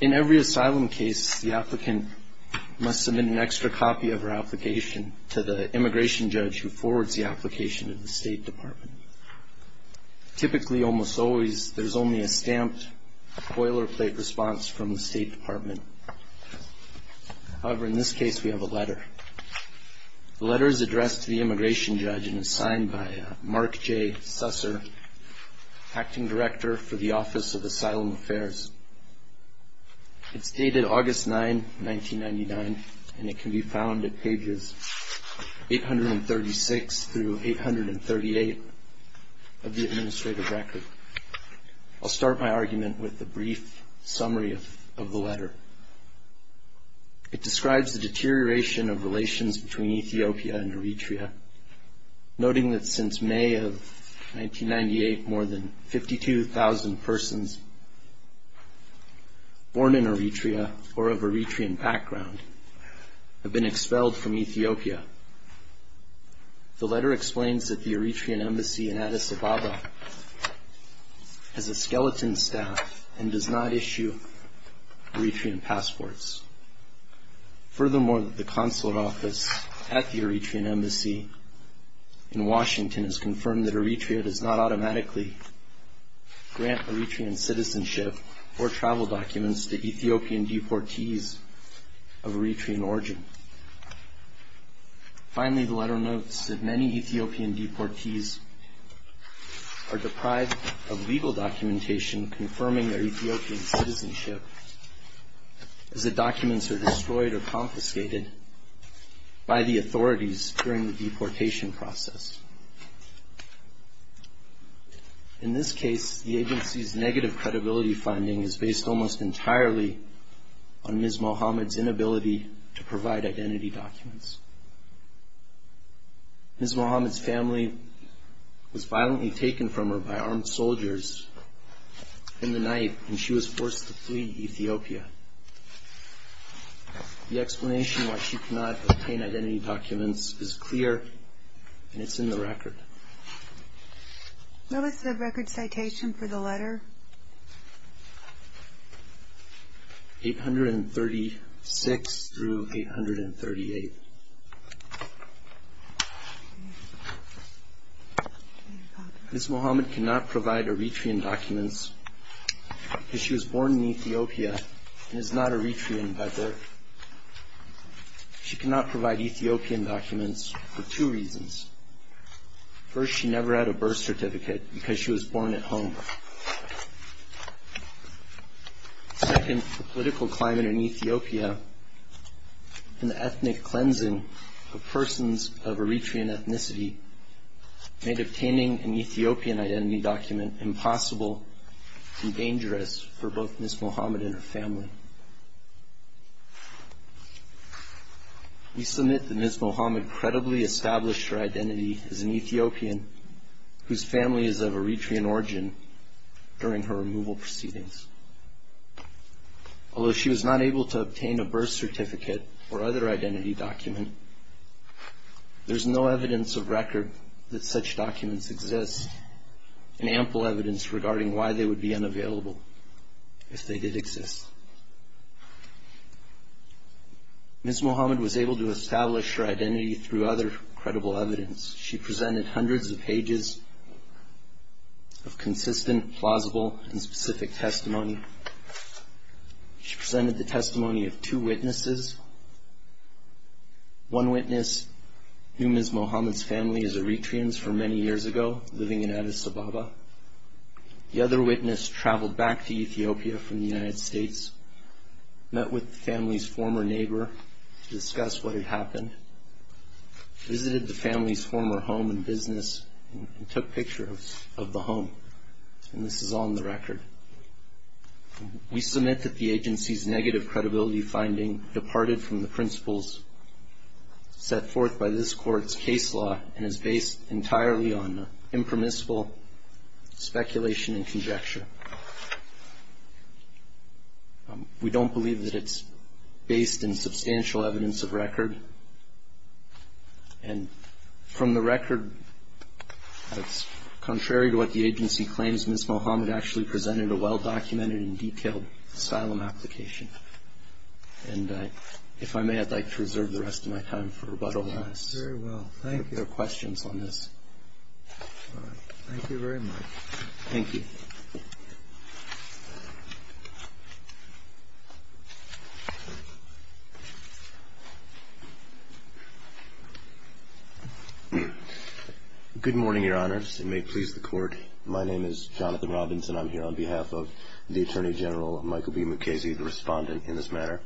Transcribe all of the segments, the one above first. In every asylum case, the applicant must submit an extra copy of her application to the immigration judge who forwards the application to the State Department. Typically, almost always, there is only a stamped, boilerplate response from the State Department. However, in this case, we have a letter. The letter is addressed to the immigration judge and is signed by Mark J. Susser, Acting Director for the Office of Asylum Affairs. It's dated August 9, 1999, and it can be found at pages 836 through 838 of the administrative record. I'll start my argument with a brief summary of the letter. It describes the deterioration of relations between Ethiopia and Eritrea, noting that since May of 1998, more than 52,000 persons born in Eritrea or of Eritrean background have been expelled from Ethiopia. The letter explains that the Eritrean Embassy in Addis Ababa has a skeleton staff and does not issue Eritrean passports. Furthermore, the consulate office at the Eritrean Embassy in Washington has confirmed that Eritrea does not automatically grant Eritrean citizenship or travel documents to Ethiopian deportees of Eritrean origin. Finally, the letter notes that many Ethiopian deportees are deprived of legal documentation confirming their Ethiopian citizenship as the documents are destroyed or confiscated by the authorities during the deportation process. In this case, the agency's negative credibility finding is based almost entirely on Ms. Mohamed's inability to provide identity documents. Ms. Mohamed's family was violently taken from her by armed soldiers in the night, and she was forced to flee Ethiopia. The explanation why she could not obtain identity documents is clear, and it's in the record. What was the record citation for the letter? 836 through 838. Ms. Mohamed cannot provide Eritrean documents because she was born in Ethiopia and is not Eritrean by birth. She cannot provide Ethiopian documents for two reasons. First, she never had a birth certificate because she was born at home. Second, the political climate in Ethiopia and the ethnic cleansing of persons of Eritrean ethnicity made obtaining an Ethiopian identity document impossible and dangerous for both Ms. Mohamed and her family. We submit that Ms. Mohamed credibly established her identity as an Ethiopian whose family is of Eritrean origin during her removal proceedings. Although she was not able to obtain a birth certificate or other identity document, there is no evidence of record that such documents exist, and ample evidence regarding why they would be unavailable if they did exist. Ms. Mohamed was able to establish her identity through other credible evidence. She presented hundreds of pages of consistent, plausible, and specific testimony. She presented the testimony of two witnesses. One witness knew Ms. Mohamed's family as Eritreans for many years ago, living in Addis Ababa. The other witness traveled back to Ethiopia from the United States, met with the family's former neighbor to discuss what had happened, visited the family's former home and business, and took pictures of the home. And this is on the record. We submit that the agency's negative credibility finding departed from the principles set forth by this Court's case law and is based entirely on impermissible speculation and conjecture. We don't believe that it's based in substantial evidence of record. And from the record, it's contrary to what the agency claims. Ms. Mohamed actually presented a well-documented and detailed asylum application. And if I may, I'd like to reserve the rest of my time for rebuttal. Yes, very well. Thank you. If there are questions on this. All right. Thank you very much. Thank you. Good morning, Your Honors. It may please the Court. My name is Jonathan Robinson. I'm here on behalf of the Attorney General Michael B. Mukasey, the respondent in this matter.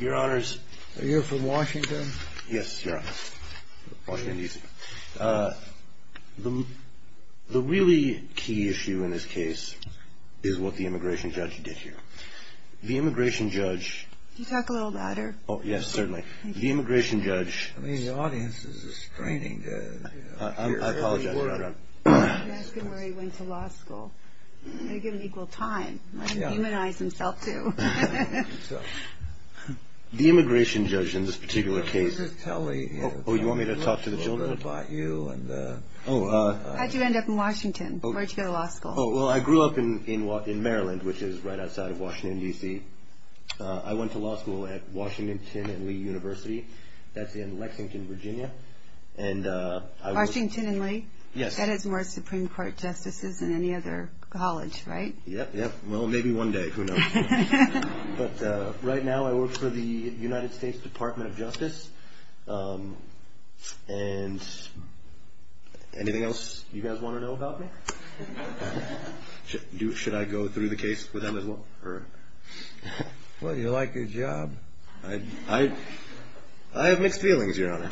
Your Honors. Are you from Washington? Yes, Your Honor. Washington, DC. The really key issue in this case is what the immigration judge did here. The immigration judge... Can you talk a little louder? Oh, yes, certainly. The immigration judge... I mean, the audience is restraining. I apologize, Your Honor. That's good where he went to law school. He got an equal time. He humanized himself, too. The immigration judge in this particular case... Oh, you want me to talk to the children? How'd you end up in Washington? Where'd you go to law school? Oh, well, I grew up in Maryland, which is right outside of Washington, DC. That's in Lexington, Virginia. Washington and Lee? Yes. That is more Supreme Court justices than any other college, right? Yep, yep. Well, maybe one day. Who knows? But right now I work for the United States Department of Justice. Anything else you guys want to know about me? Should I go through the case with them as well? Well, you like your job. I have mixed feelings, Your Honor.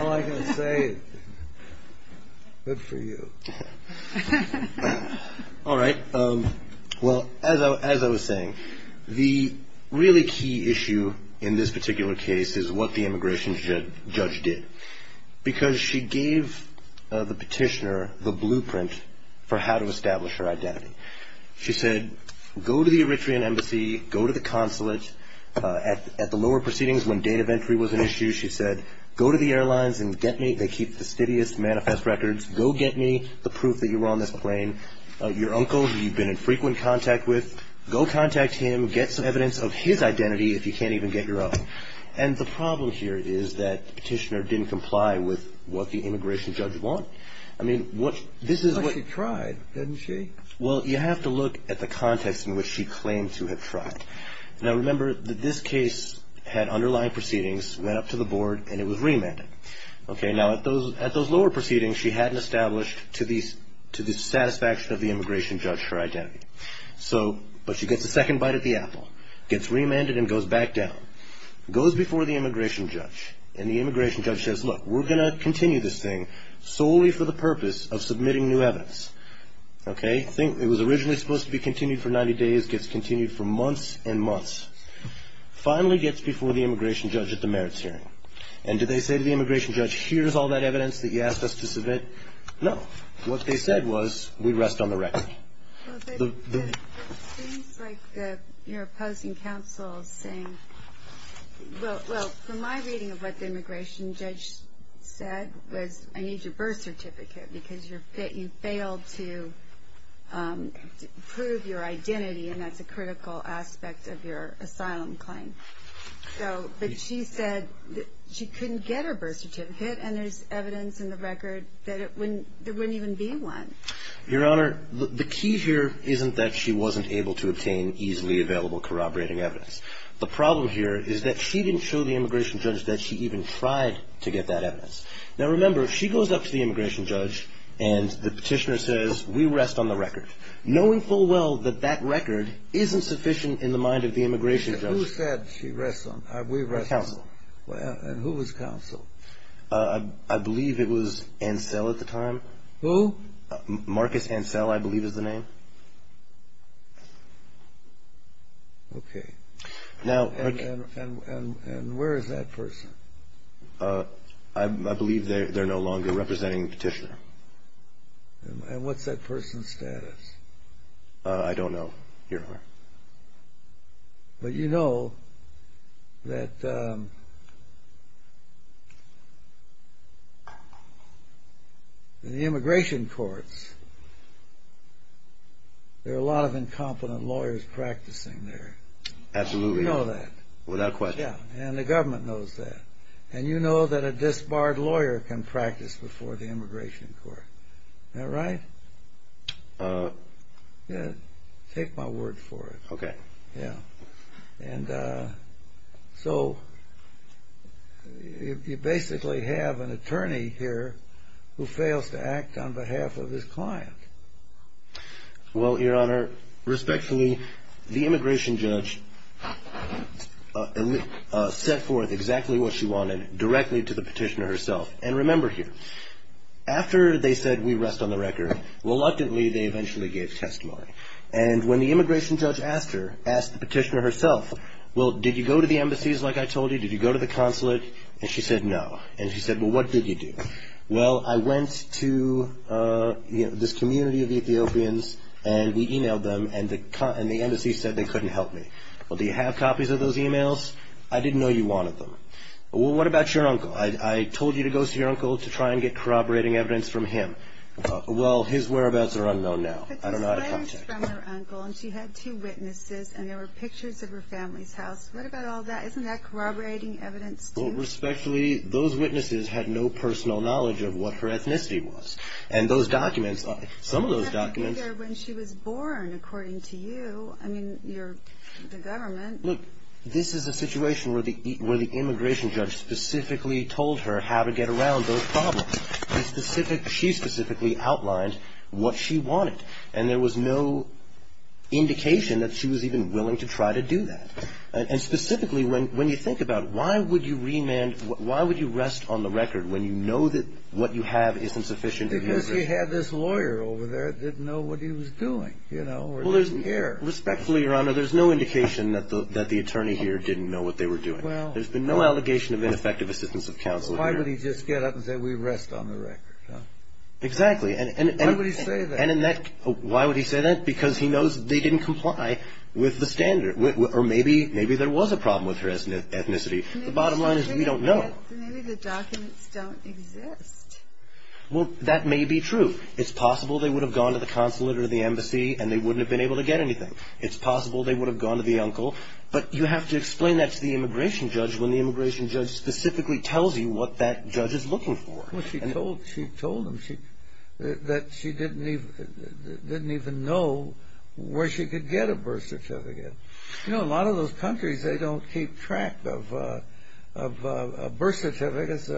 All I can say is, good for you. All right. Well, as I was saying, the really key issue in this particular case is what the immigration judge did. Because she gave the petitioner the blueprint for how to establish her identity. She said, go to the Eritrean Embassy, go to the consulate. At the lower proceedings, when date of entry was an issue, she said, go to the airlines and get me. They keep the steadiest manifest records. Go get me the proof that you were on this plane. Your uncle, who you've been in frequent contact with, go contact him. Get some evidence of his identity if you can't even get your own. And the problem here is that the petitioner didn't comply with what the immigration judge wanted. I mean, this is what... But she tried, didn't she? Well, you have to look at the context in which she claimed to have tried. Now, remember that this case had underlying proceedings, went up to the board, and it was remanded. Okay. Now, at those lower proceedings, she hadn't established to the satisfaction of the immigration judge her identity. But she gets a second bite at the apple, gets remanded and goes back down. Goes before the immigration judge, and the immigration judge says, look, we're going to continue this thing solely for the purpose of submitting new evidence. Okay. It was originally supposed to be continued for 90 days. It gets continued for months and months. Finally gets before the immigration judge at the merits hearing. And did they say to the immigration judge, here's all that evidence that you asked us to submit? No. What they said was, we rest on the record. It seems like you're opposing counsel saying... Well, from my reading of what the immigration judge said was, I need your birth certificate because you failed to prove your identity, and that's a critical aspect of your asylum claim. But she said she couldn't get her birth certificate, and there's evidence in the record that there wouldn't even be one. Your Honor, the key here isn't that she wasn't able to obtain easily available corroborating evidence. The problem here is that she didn't show the immigration judge that she even tried to get that evidence. Now, remember, she goes up to the immigration judge, and the petitioner says, we rest on the record, knowing full well that that record isn't sufficient in the mind of the immigration judge. Who said she rests on the record? Counsel. And who was counsel? I believe it was Ansel at the time. Who? Marcus Ansel, I believe is the name. Okay. Now... And where is that person? I believe they're no longer representing the petitioner. And what's that person's status? I don't know, Your Honor. But you know that in the immigration courts, there are a lot of incompetent lawyers practicing there. Absolutely. You know that. Without question. Yeah. And the government knows that. And you know that a disbarred lawyer can practice before the immigration court. Am I right? Yeah, take my word for it. Okay. Yeah. And so you basically have an attorney here who fails to act on behalf of his client. Well, Your Honor, respectfully, the immigration judge set forth exactly what she wanted directly to the petitioner herself. And remember here, after they said we rest on the record, reluctantly they eventually gave testimony. And when the immigration judge asked her, asked the petitioner herself, well, did you go to the embassies like I told you? Did you go to the consulate? And she said no. And she said, well, what did you do? Well, I went to this community of Ethiopians, and we emailed them, and the embassy said they couldn't help me. Well, do you have copies of those emails? I didn't know you wanted them. Well, what about your uncle? I told you to go see your uncle to try and get corroborating evidence from him. Well, his whereabouts are unknown now. I don't know how to contact him. But there's letters from her uncle, and she had two witnesses, and there were pictures of her family's house. What about all that? Isn't that corroborating evidence, too? Well, respectfully, those witnesses had no personal knowledge of what her ethnicity was. And those documents, some of those documents – But they have to be there when she was born, according to you. I mean, you're the government. Look, this is a situation where the immigration judge specifically told her how to get around those problems. She specifically outlined what she wanted, and there was no indication that she was even willing to try to do that. And specifically, when you think about it, why would you rest on the record when you know that what you have isn't sufficient? Because she had this lawyer over there that didn't know what he was doing. Respectfully, Your Honor, there's no indication that the attorney here didn't know what they were doing. There's been no allegation of ineffective assistance of counsel here. Why would he just get up and say, we rest on the record? Exactly. Why would he say that? Why would he say that? Because he knows they didn't comply with the standard. Or maybe there was a problem with her ethnicity. The bottom line is we don't know. Maybe the documents don't exist. Well, that may be true. It's possible they would have gone to the consulate or the embassy and they wouldn't have been able to get anything. It's possible they would have gone to the uncle. But you have to explain that to the immigration judge when the immigration judge specifically tells you what that judge is looking for. Well, she told him that she didn't even know where she could get a birth certificate. You know, a lot of those countries, they don't keep track of birth certificates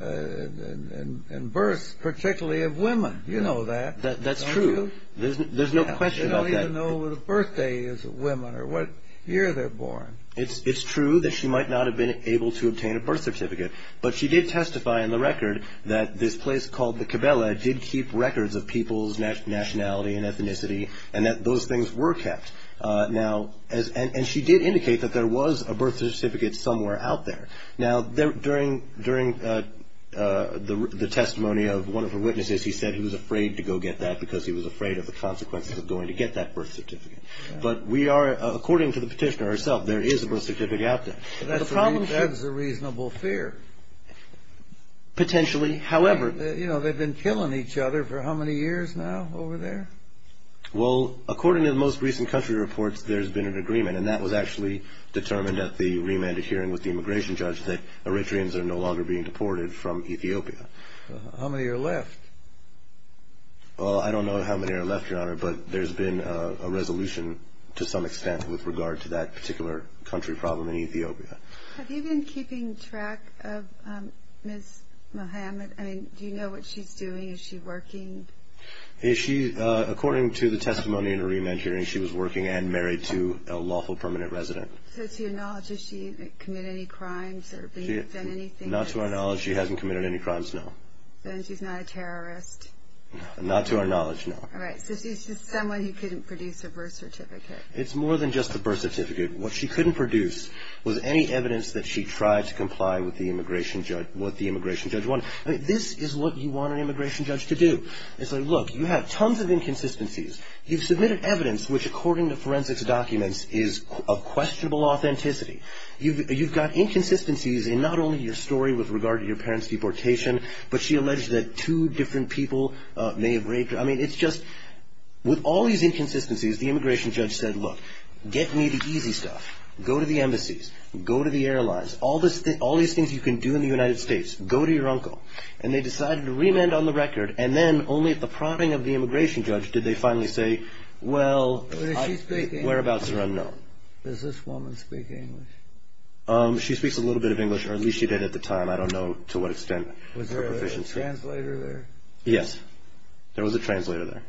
and births, particularly of women. You know that. That's true. There's no question about that. They don't even know what a birthday is of women or what year they're born. It's true that she might not have been able to obtain a birth certificate. But she did testify on the record that this place called the Cabela did keep records of people's nationality and ethnicity and that those things were kept. Now, and she did indicate that there was a birth certificate somewhere out there. Now, during the testimony of one of her witnesses, he said he was afraid to go get that because he was afraid of the consequences of going to get that birth certificate. But we are, according to the petitioner herself, there is a birth certificate out there. That's a reasonable fear. Potentially. However. You know, they've been killing each other for how many years now over there? Well, according to the most recent country reports, there's been an agreement, and that was actually determined at the remanded hearing with the immigration judge, that Eritreans are no longer being deported from Ethiopia. How many are left? Well, I don't know how many are left, Your Honor, but there's been a resolution to some extent with regard to that particular country problem in Ethiopia. Have you been keeping track of Ms. Muhammad? I mean, do you know what she's doing? Is she working? According to the testimony in the remand hearing, she was working and married to a lawful permanent resident. So to your knowledge, has she committed any crimes or been convicted of anything? Not to our knowledge. She hasn't committed any crimes, no. Then she's not a terrorist. Not to our knowledge, no. All right. So she's just someone who couldn't produce a birth certificate. It's more than just a birth certificate. What she couldn't produce was any evidence that she tried to comply with what the immigration judge wanted. I mean, this is what you want an immigration judge to do. It's like, look, you have tons of inconsistencies. You've submitted evidence which, according to forensics documents, is of questionable authenticity. You've got inconsistencies in not only your story with regard to your parents' deportation, but she alleged that two different people may have raped her. I mean, it's just with all these inconsistencies, the immigration judge said, look, get me the easy stuff. Go to the embassies. Go to the airlines. All these things you can do in the United States. Go to your uncle. And they decided to remand on the record. And then only at the prodding of the immigration judge did they finally say, well, whereabouts are unknown. Does this woman speak English? She speaks a little bit of English, or at least she did at the time. I don't know to what extent. Was there a translator there? Yes. There was a translator there.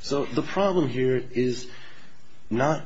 So the problem here is not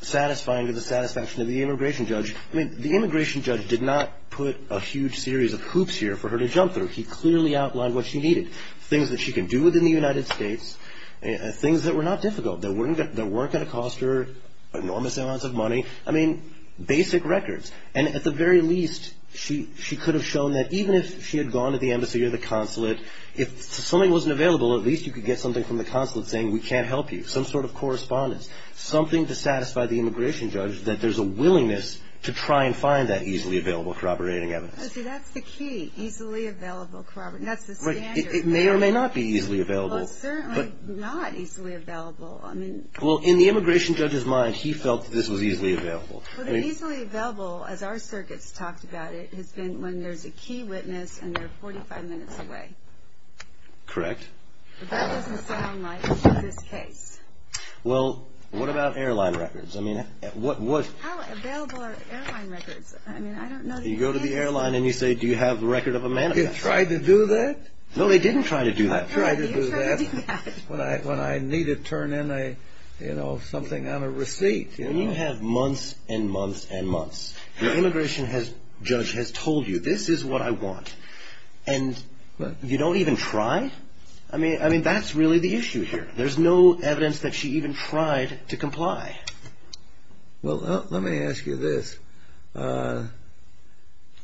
satisfying to the satisfaction of the immigration judge. I mean, the immigration judge did not put a huge series of hoops here for her to jump through. He clearly outlined what she needed, things that she can do within the United States, things that were not difficult, that weren't going to cost her enormous amounts of money. I mean, basic records. And at the very least, she could have shown that even if she had gone to the embassy or the consulate, if something wasn't available, at least you could get something from the consulate saying, we can't help you, some sort of correspondence, something to satisfy the immigration judge, that there's a willingness to try and find that easily available corroborating evidence. That's the key, easily available corroborating. That's the standard. It may or may not be easily available. Well, certainly not easily available. Well, in the immigration judge's mind, he felt that this was easily available. Well, easily available, as our circuits talked about it, has been when there's a key witness and they're 45 minutes away. Correct. But that doesn't sound like this case. Well, what about airline records? How available are airline records? You go to the airline and you say, do you have a record of a manifesto? They tried to do that? No, they didn't try to do that. They tried to do that when I needed to turn in something on a receipt. When you have months and months and months, the immigration judge has told you, this is what I want. And you don't even try? I mean, that's really the issue here. There's no evidence that she even tried to comply. Well, let me ask you this. The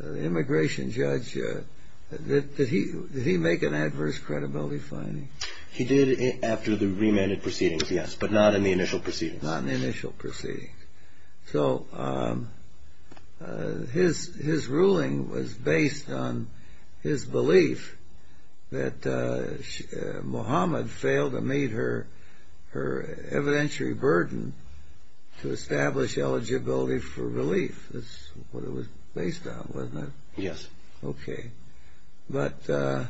immigration judge, did he make an adverse credibility finding? He did after the remanded proceedings, yes, but not in the initial proceedings. Not in the initial proceedings. So his ruling was based on his belief that Muhammad failed to meet her evidentiary burden to establish eligibility for relief. That's what it was based on, wasn't it? Yes. Okay. But that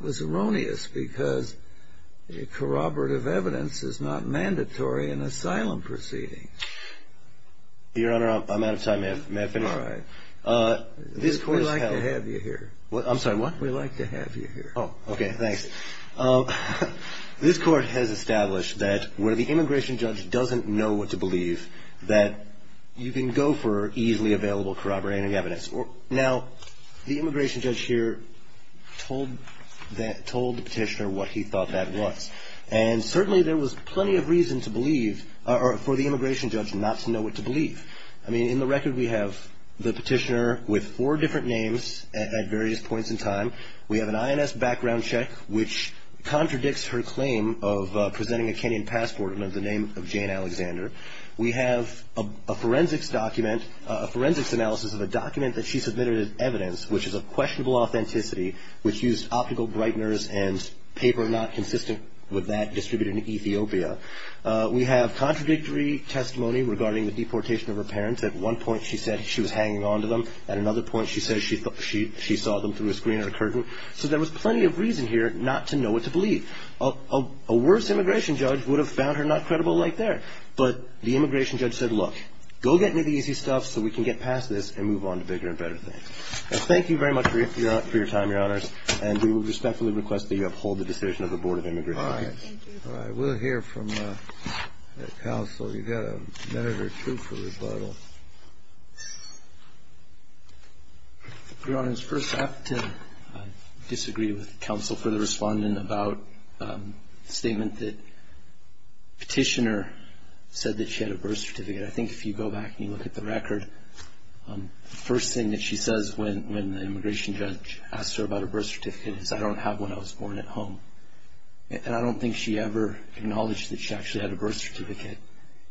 was erroneous because corroborative evidence is not mandatory in asylum proceedings. Your Honor, I'm out of time. May I finish? All right. We'd like to have you here. I'm sorry, what? We'd like to have you here. Oh, okay. Thanks. This Court has established that where the immigration judge doesn't know what to believe, that you can go for easily available corroborative evidence. Now, the immigration judge here told the petitioner what he thought that was. And certainly there was plenty of reason for the immigration judge not to know what to believe. I mean, in the record we have the petitioner with four different names at various points in time. We have an INS background check which contradicts her claim of presenting a Kenyan passport under the name of Jane Alexander. We have a forensics analysis of a document that she submitted as evidence, which is of questionable authenticity, which used optical brighteners and paper not consistent with that distributed in Ethiopia. We have contradictory testimony regarding the deportation of her parents. At one point she said she was hanging on to them. At another point she said she saw them through a screen or a curtain. So there was plenty of reason here not to know what to believe. A worse immigration judge would have found her not credible right there. But the immigration judge said, look, go get me the easy stuff so we can get past this and move on to bigger and better things. Thank you very much for your time, Your Honors. And we respectfully request that you uphold the decision of the Board of Immigration Judges. All right. We'll hear from the counsel. We've got a minute or two for rebuttal. Your Honors, first I have to disagree with counsel for the respondent about the statement that petitioner said that she had a birth certificate. I think if you go back and you look at the record, the first thing that she says when the immigration judge asked her about her birth certificate is, I don't have one, I was born at home. And I don't think she ever acknowledged that she actually had a birth certificate.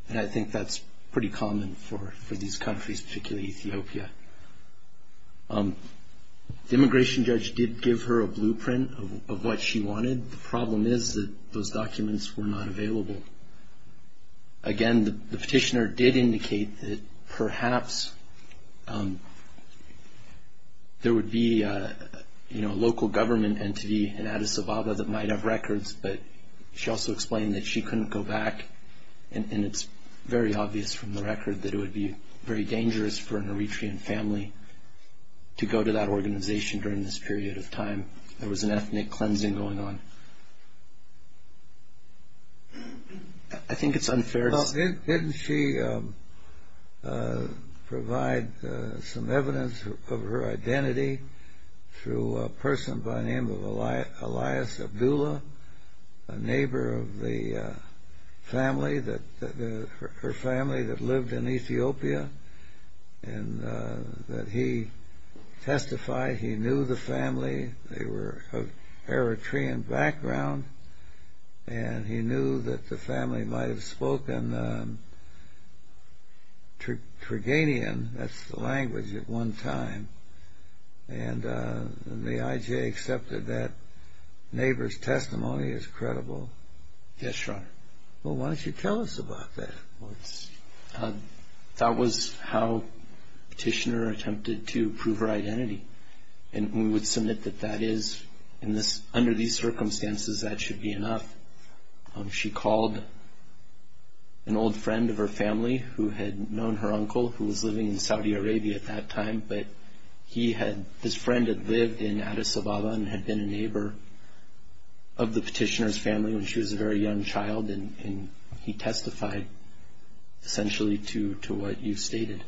And I think that's pretty common for these countries, particularly Ethiopia. The immigration judge did give her a blueprint of what she wanted. The problem is that those documents were not available. Again, the petitioner did indicate that perhaps there would be a local government entity in Addis Ababa, that might have records, but she also explained that she couldn't go back. And it's very obvious from the record that it would be very dangerous for an Eritrean family to go to that organization during this period of time. There was an ethnic cleansing going on. I think it's unfair. Well, didn't she provide some evidence of her identity through a person by the name of Elias Abdullah, a neighbor of the family, her family that lived in Ethiopia, and that he testified he knew the family. They were of Eritrean background, and he knew that the family might have spoken Turganian. That's the language at one time. And the IJ accepted that neighbor's testimony is credible. Yes, Your Honor. Well, why don't you tell us about that? That was how the petitioner attempted to prove her identity. And we would submit that that is, under these circumstances, that should be enough. She called an old friend of her family who had known her uncle, who was living in Saudi Arabia at that time, but his friend had lived in Addis Ababa and had been a neighbor of the petitioner's family when she was a very young child, and he testified essentially to what you stated.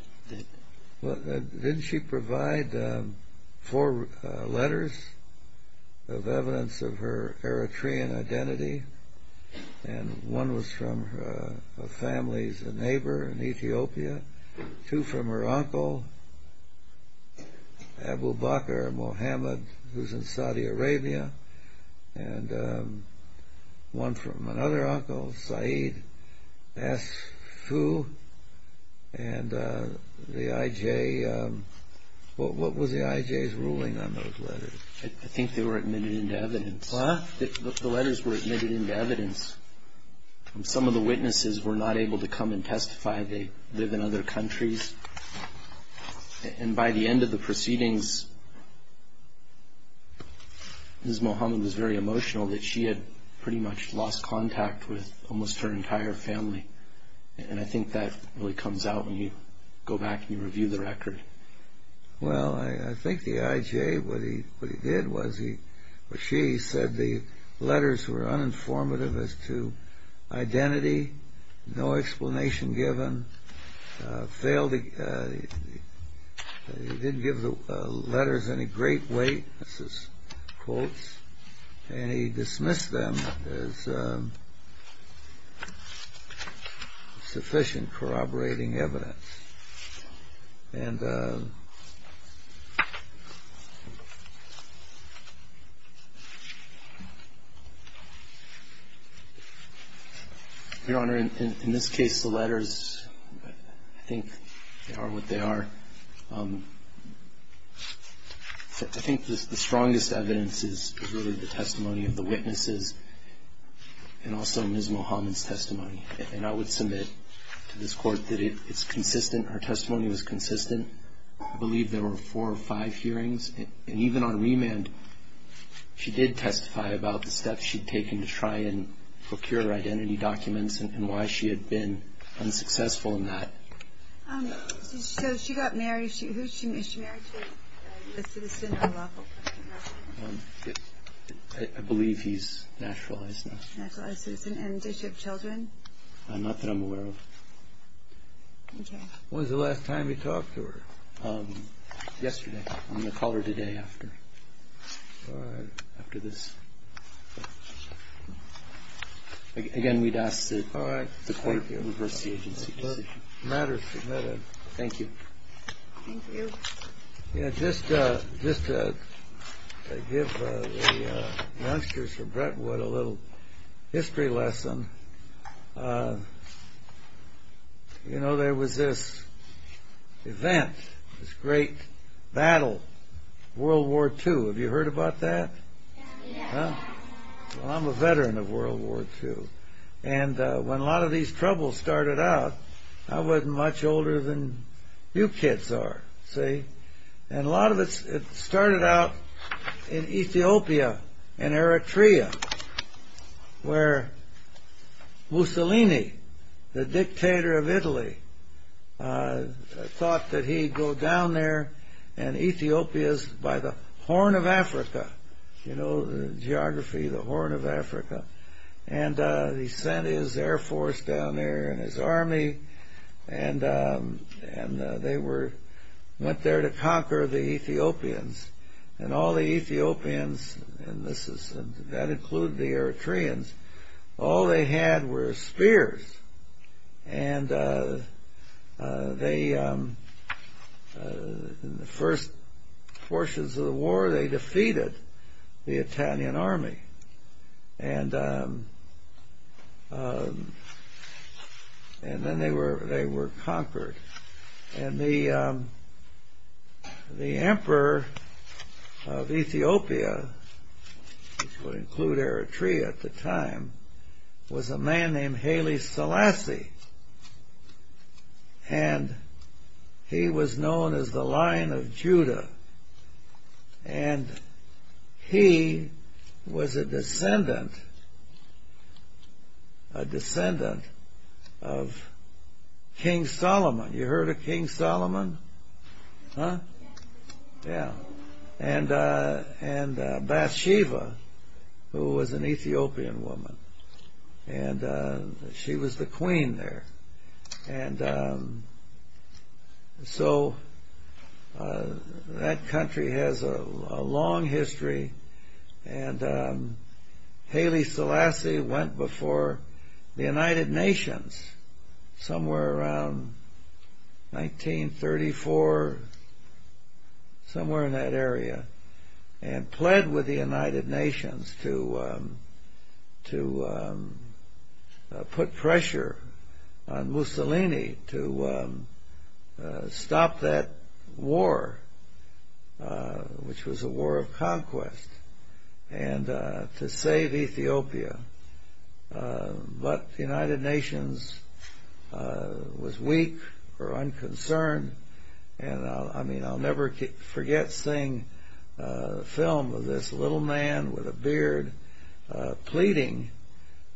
Well, didn't she provide four letters of evidence of her Eritrean identity? And one was from a family's neighbor in Ethiopia, two from her uncle, Abu Bakr Mohammed, who's in Saudi Arabia, and one from another uncle, Saeed S. Fu. And the IJ, what was the IJ's ruling on those letters? I think they were admitted into evidence. What? The letters were admitted into evidence. Some of the witnesses were not able to come and testify. They live in other countries. And by the end of the proceedings, Ms. Mohammed was very emotional that she had pretty much lost contact with almost her entire family. And I think that really comes out when you go back and you review the record. Well, I think the IJ, what he did was he or she said the letters were uninformative as to identity, no explanation given. He didn't give the letters any great weight. This is quotes. And he dismissed them as sufficient corroborating evidence. And, Your Honor, in this case, the letters, I think they are what they are. I think the strongest evidence is really the testimony of the witnesses and also Ms. Mohammed's testimony. And I would submit to this Court that it's consistent. Her testimony was consistent. I believe there were four or five hearings. And even on remand, she did testify about the steps she'd taken to try and procure her identity documents and why she had been unsuccessful in that. So she got married. Is she married to a U.S. citizen or lawful? I believe he's naturalized now. Naturalized citizen. And does she have children? Not that I'm aware of. Okay. When was the last time you talked to her? Yesterday. I'm going to call her today after. All right. After this. Again, we'd ask the Court to reverse the agency decision. Matters submitted. Thank you. Thank you. Just to give the youngsters of Brentwood a little history lesson. You know, there was this event, this great battle, World War II. Have you heard about that? I'm a veteran of World War II. And when a lot of these troubles started out, I wasn't much older than you kids are, see? And a lot of it started out in Ethiopia, in Eritrea, where Mussolini, the dictator of Italy, thought that he'd go down there and Ethiopia's by the horn of Africa. You know, the geography, the horn of Africa. And he sent his air force down there and his army, and they went there to conquer the Ethiopians. And all the Ethiopians, and that included the Eritreans, all they had were spears. And in the first portions of the war, they defeated the Italian army. And then they were conquered. And the emperor of Ethiopia, which would include Eritrea at the time, was a man named Haile Selassie. And he was known as the Lion of Judah. And he was a descendant of King Solomon. You heard of King Solomon? Huh? Yeah. And Bathsheba, who was an Ethiopian woman. And she was the queen there. And so that country has a long history. And Haile Selassie went before the United Nations somewhere around 1934, somewhere in that area, and pled with the United Nations to put pressure on Mussolini to stop that war, which was a war of conquest, and to save Ethiopia. But the United Nations was weak or unconcerned. And I mean, I'll never forget seeing a film of this little man with a beard pleading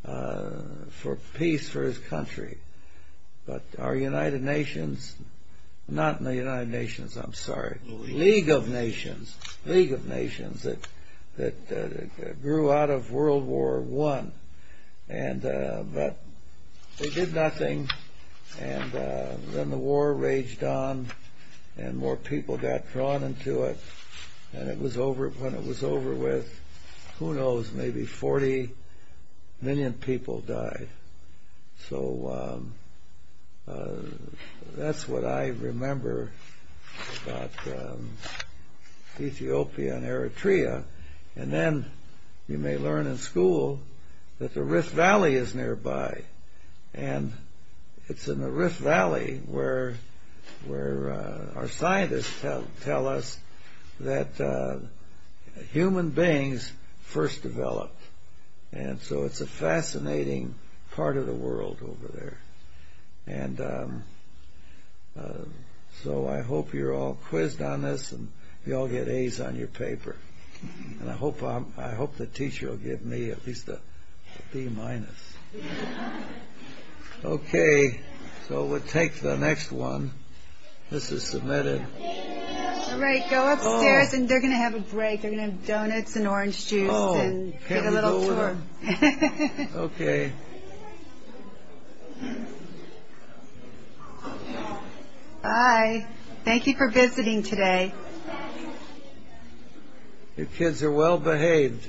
for peace for his country. But our United Nations, not in the United Nations, I'm sorry, League of Nations, League of Nations, that grew out of World War I, but they did nothing. And then the war raged on and more people got drawn into it. And when it was over with, who knows, maybe 40 million people died. So that's what I remember about Ethiopia and Eritrea. And then you may learn in school that the Rift Valley is nearby. And it's in the Rift Valley where our scientists tell us that human beings first developed. And so it's a fascinating part of the world over there. And so I hope you're all quizzed on this and you all get A's on your paper. And I hope the teacher will give me at least a B-. Okay, so we'll take the next one. This is submitted. All right, go upstairs and they're going to have a break. They're going to have donuts and orange juice and get a little tour. Okay. Okay. Bye. Thank you for visiting today. The kids are well behaved.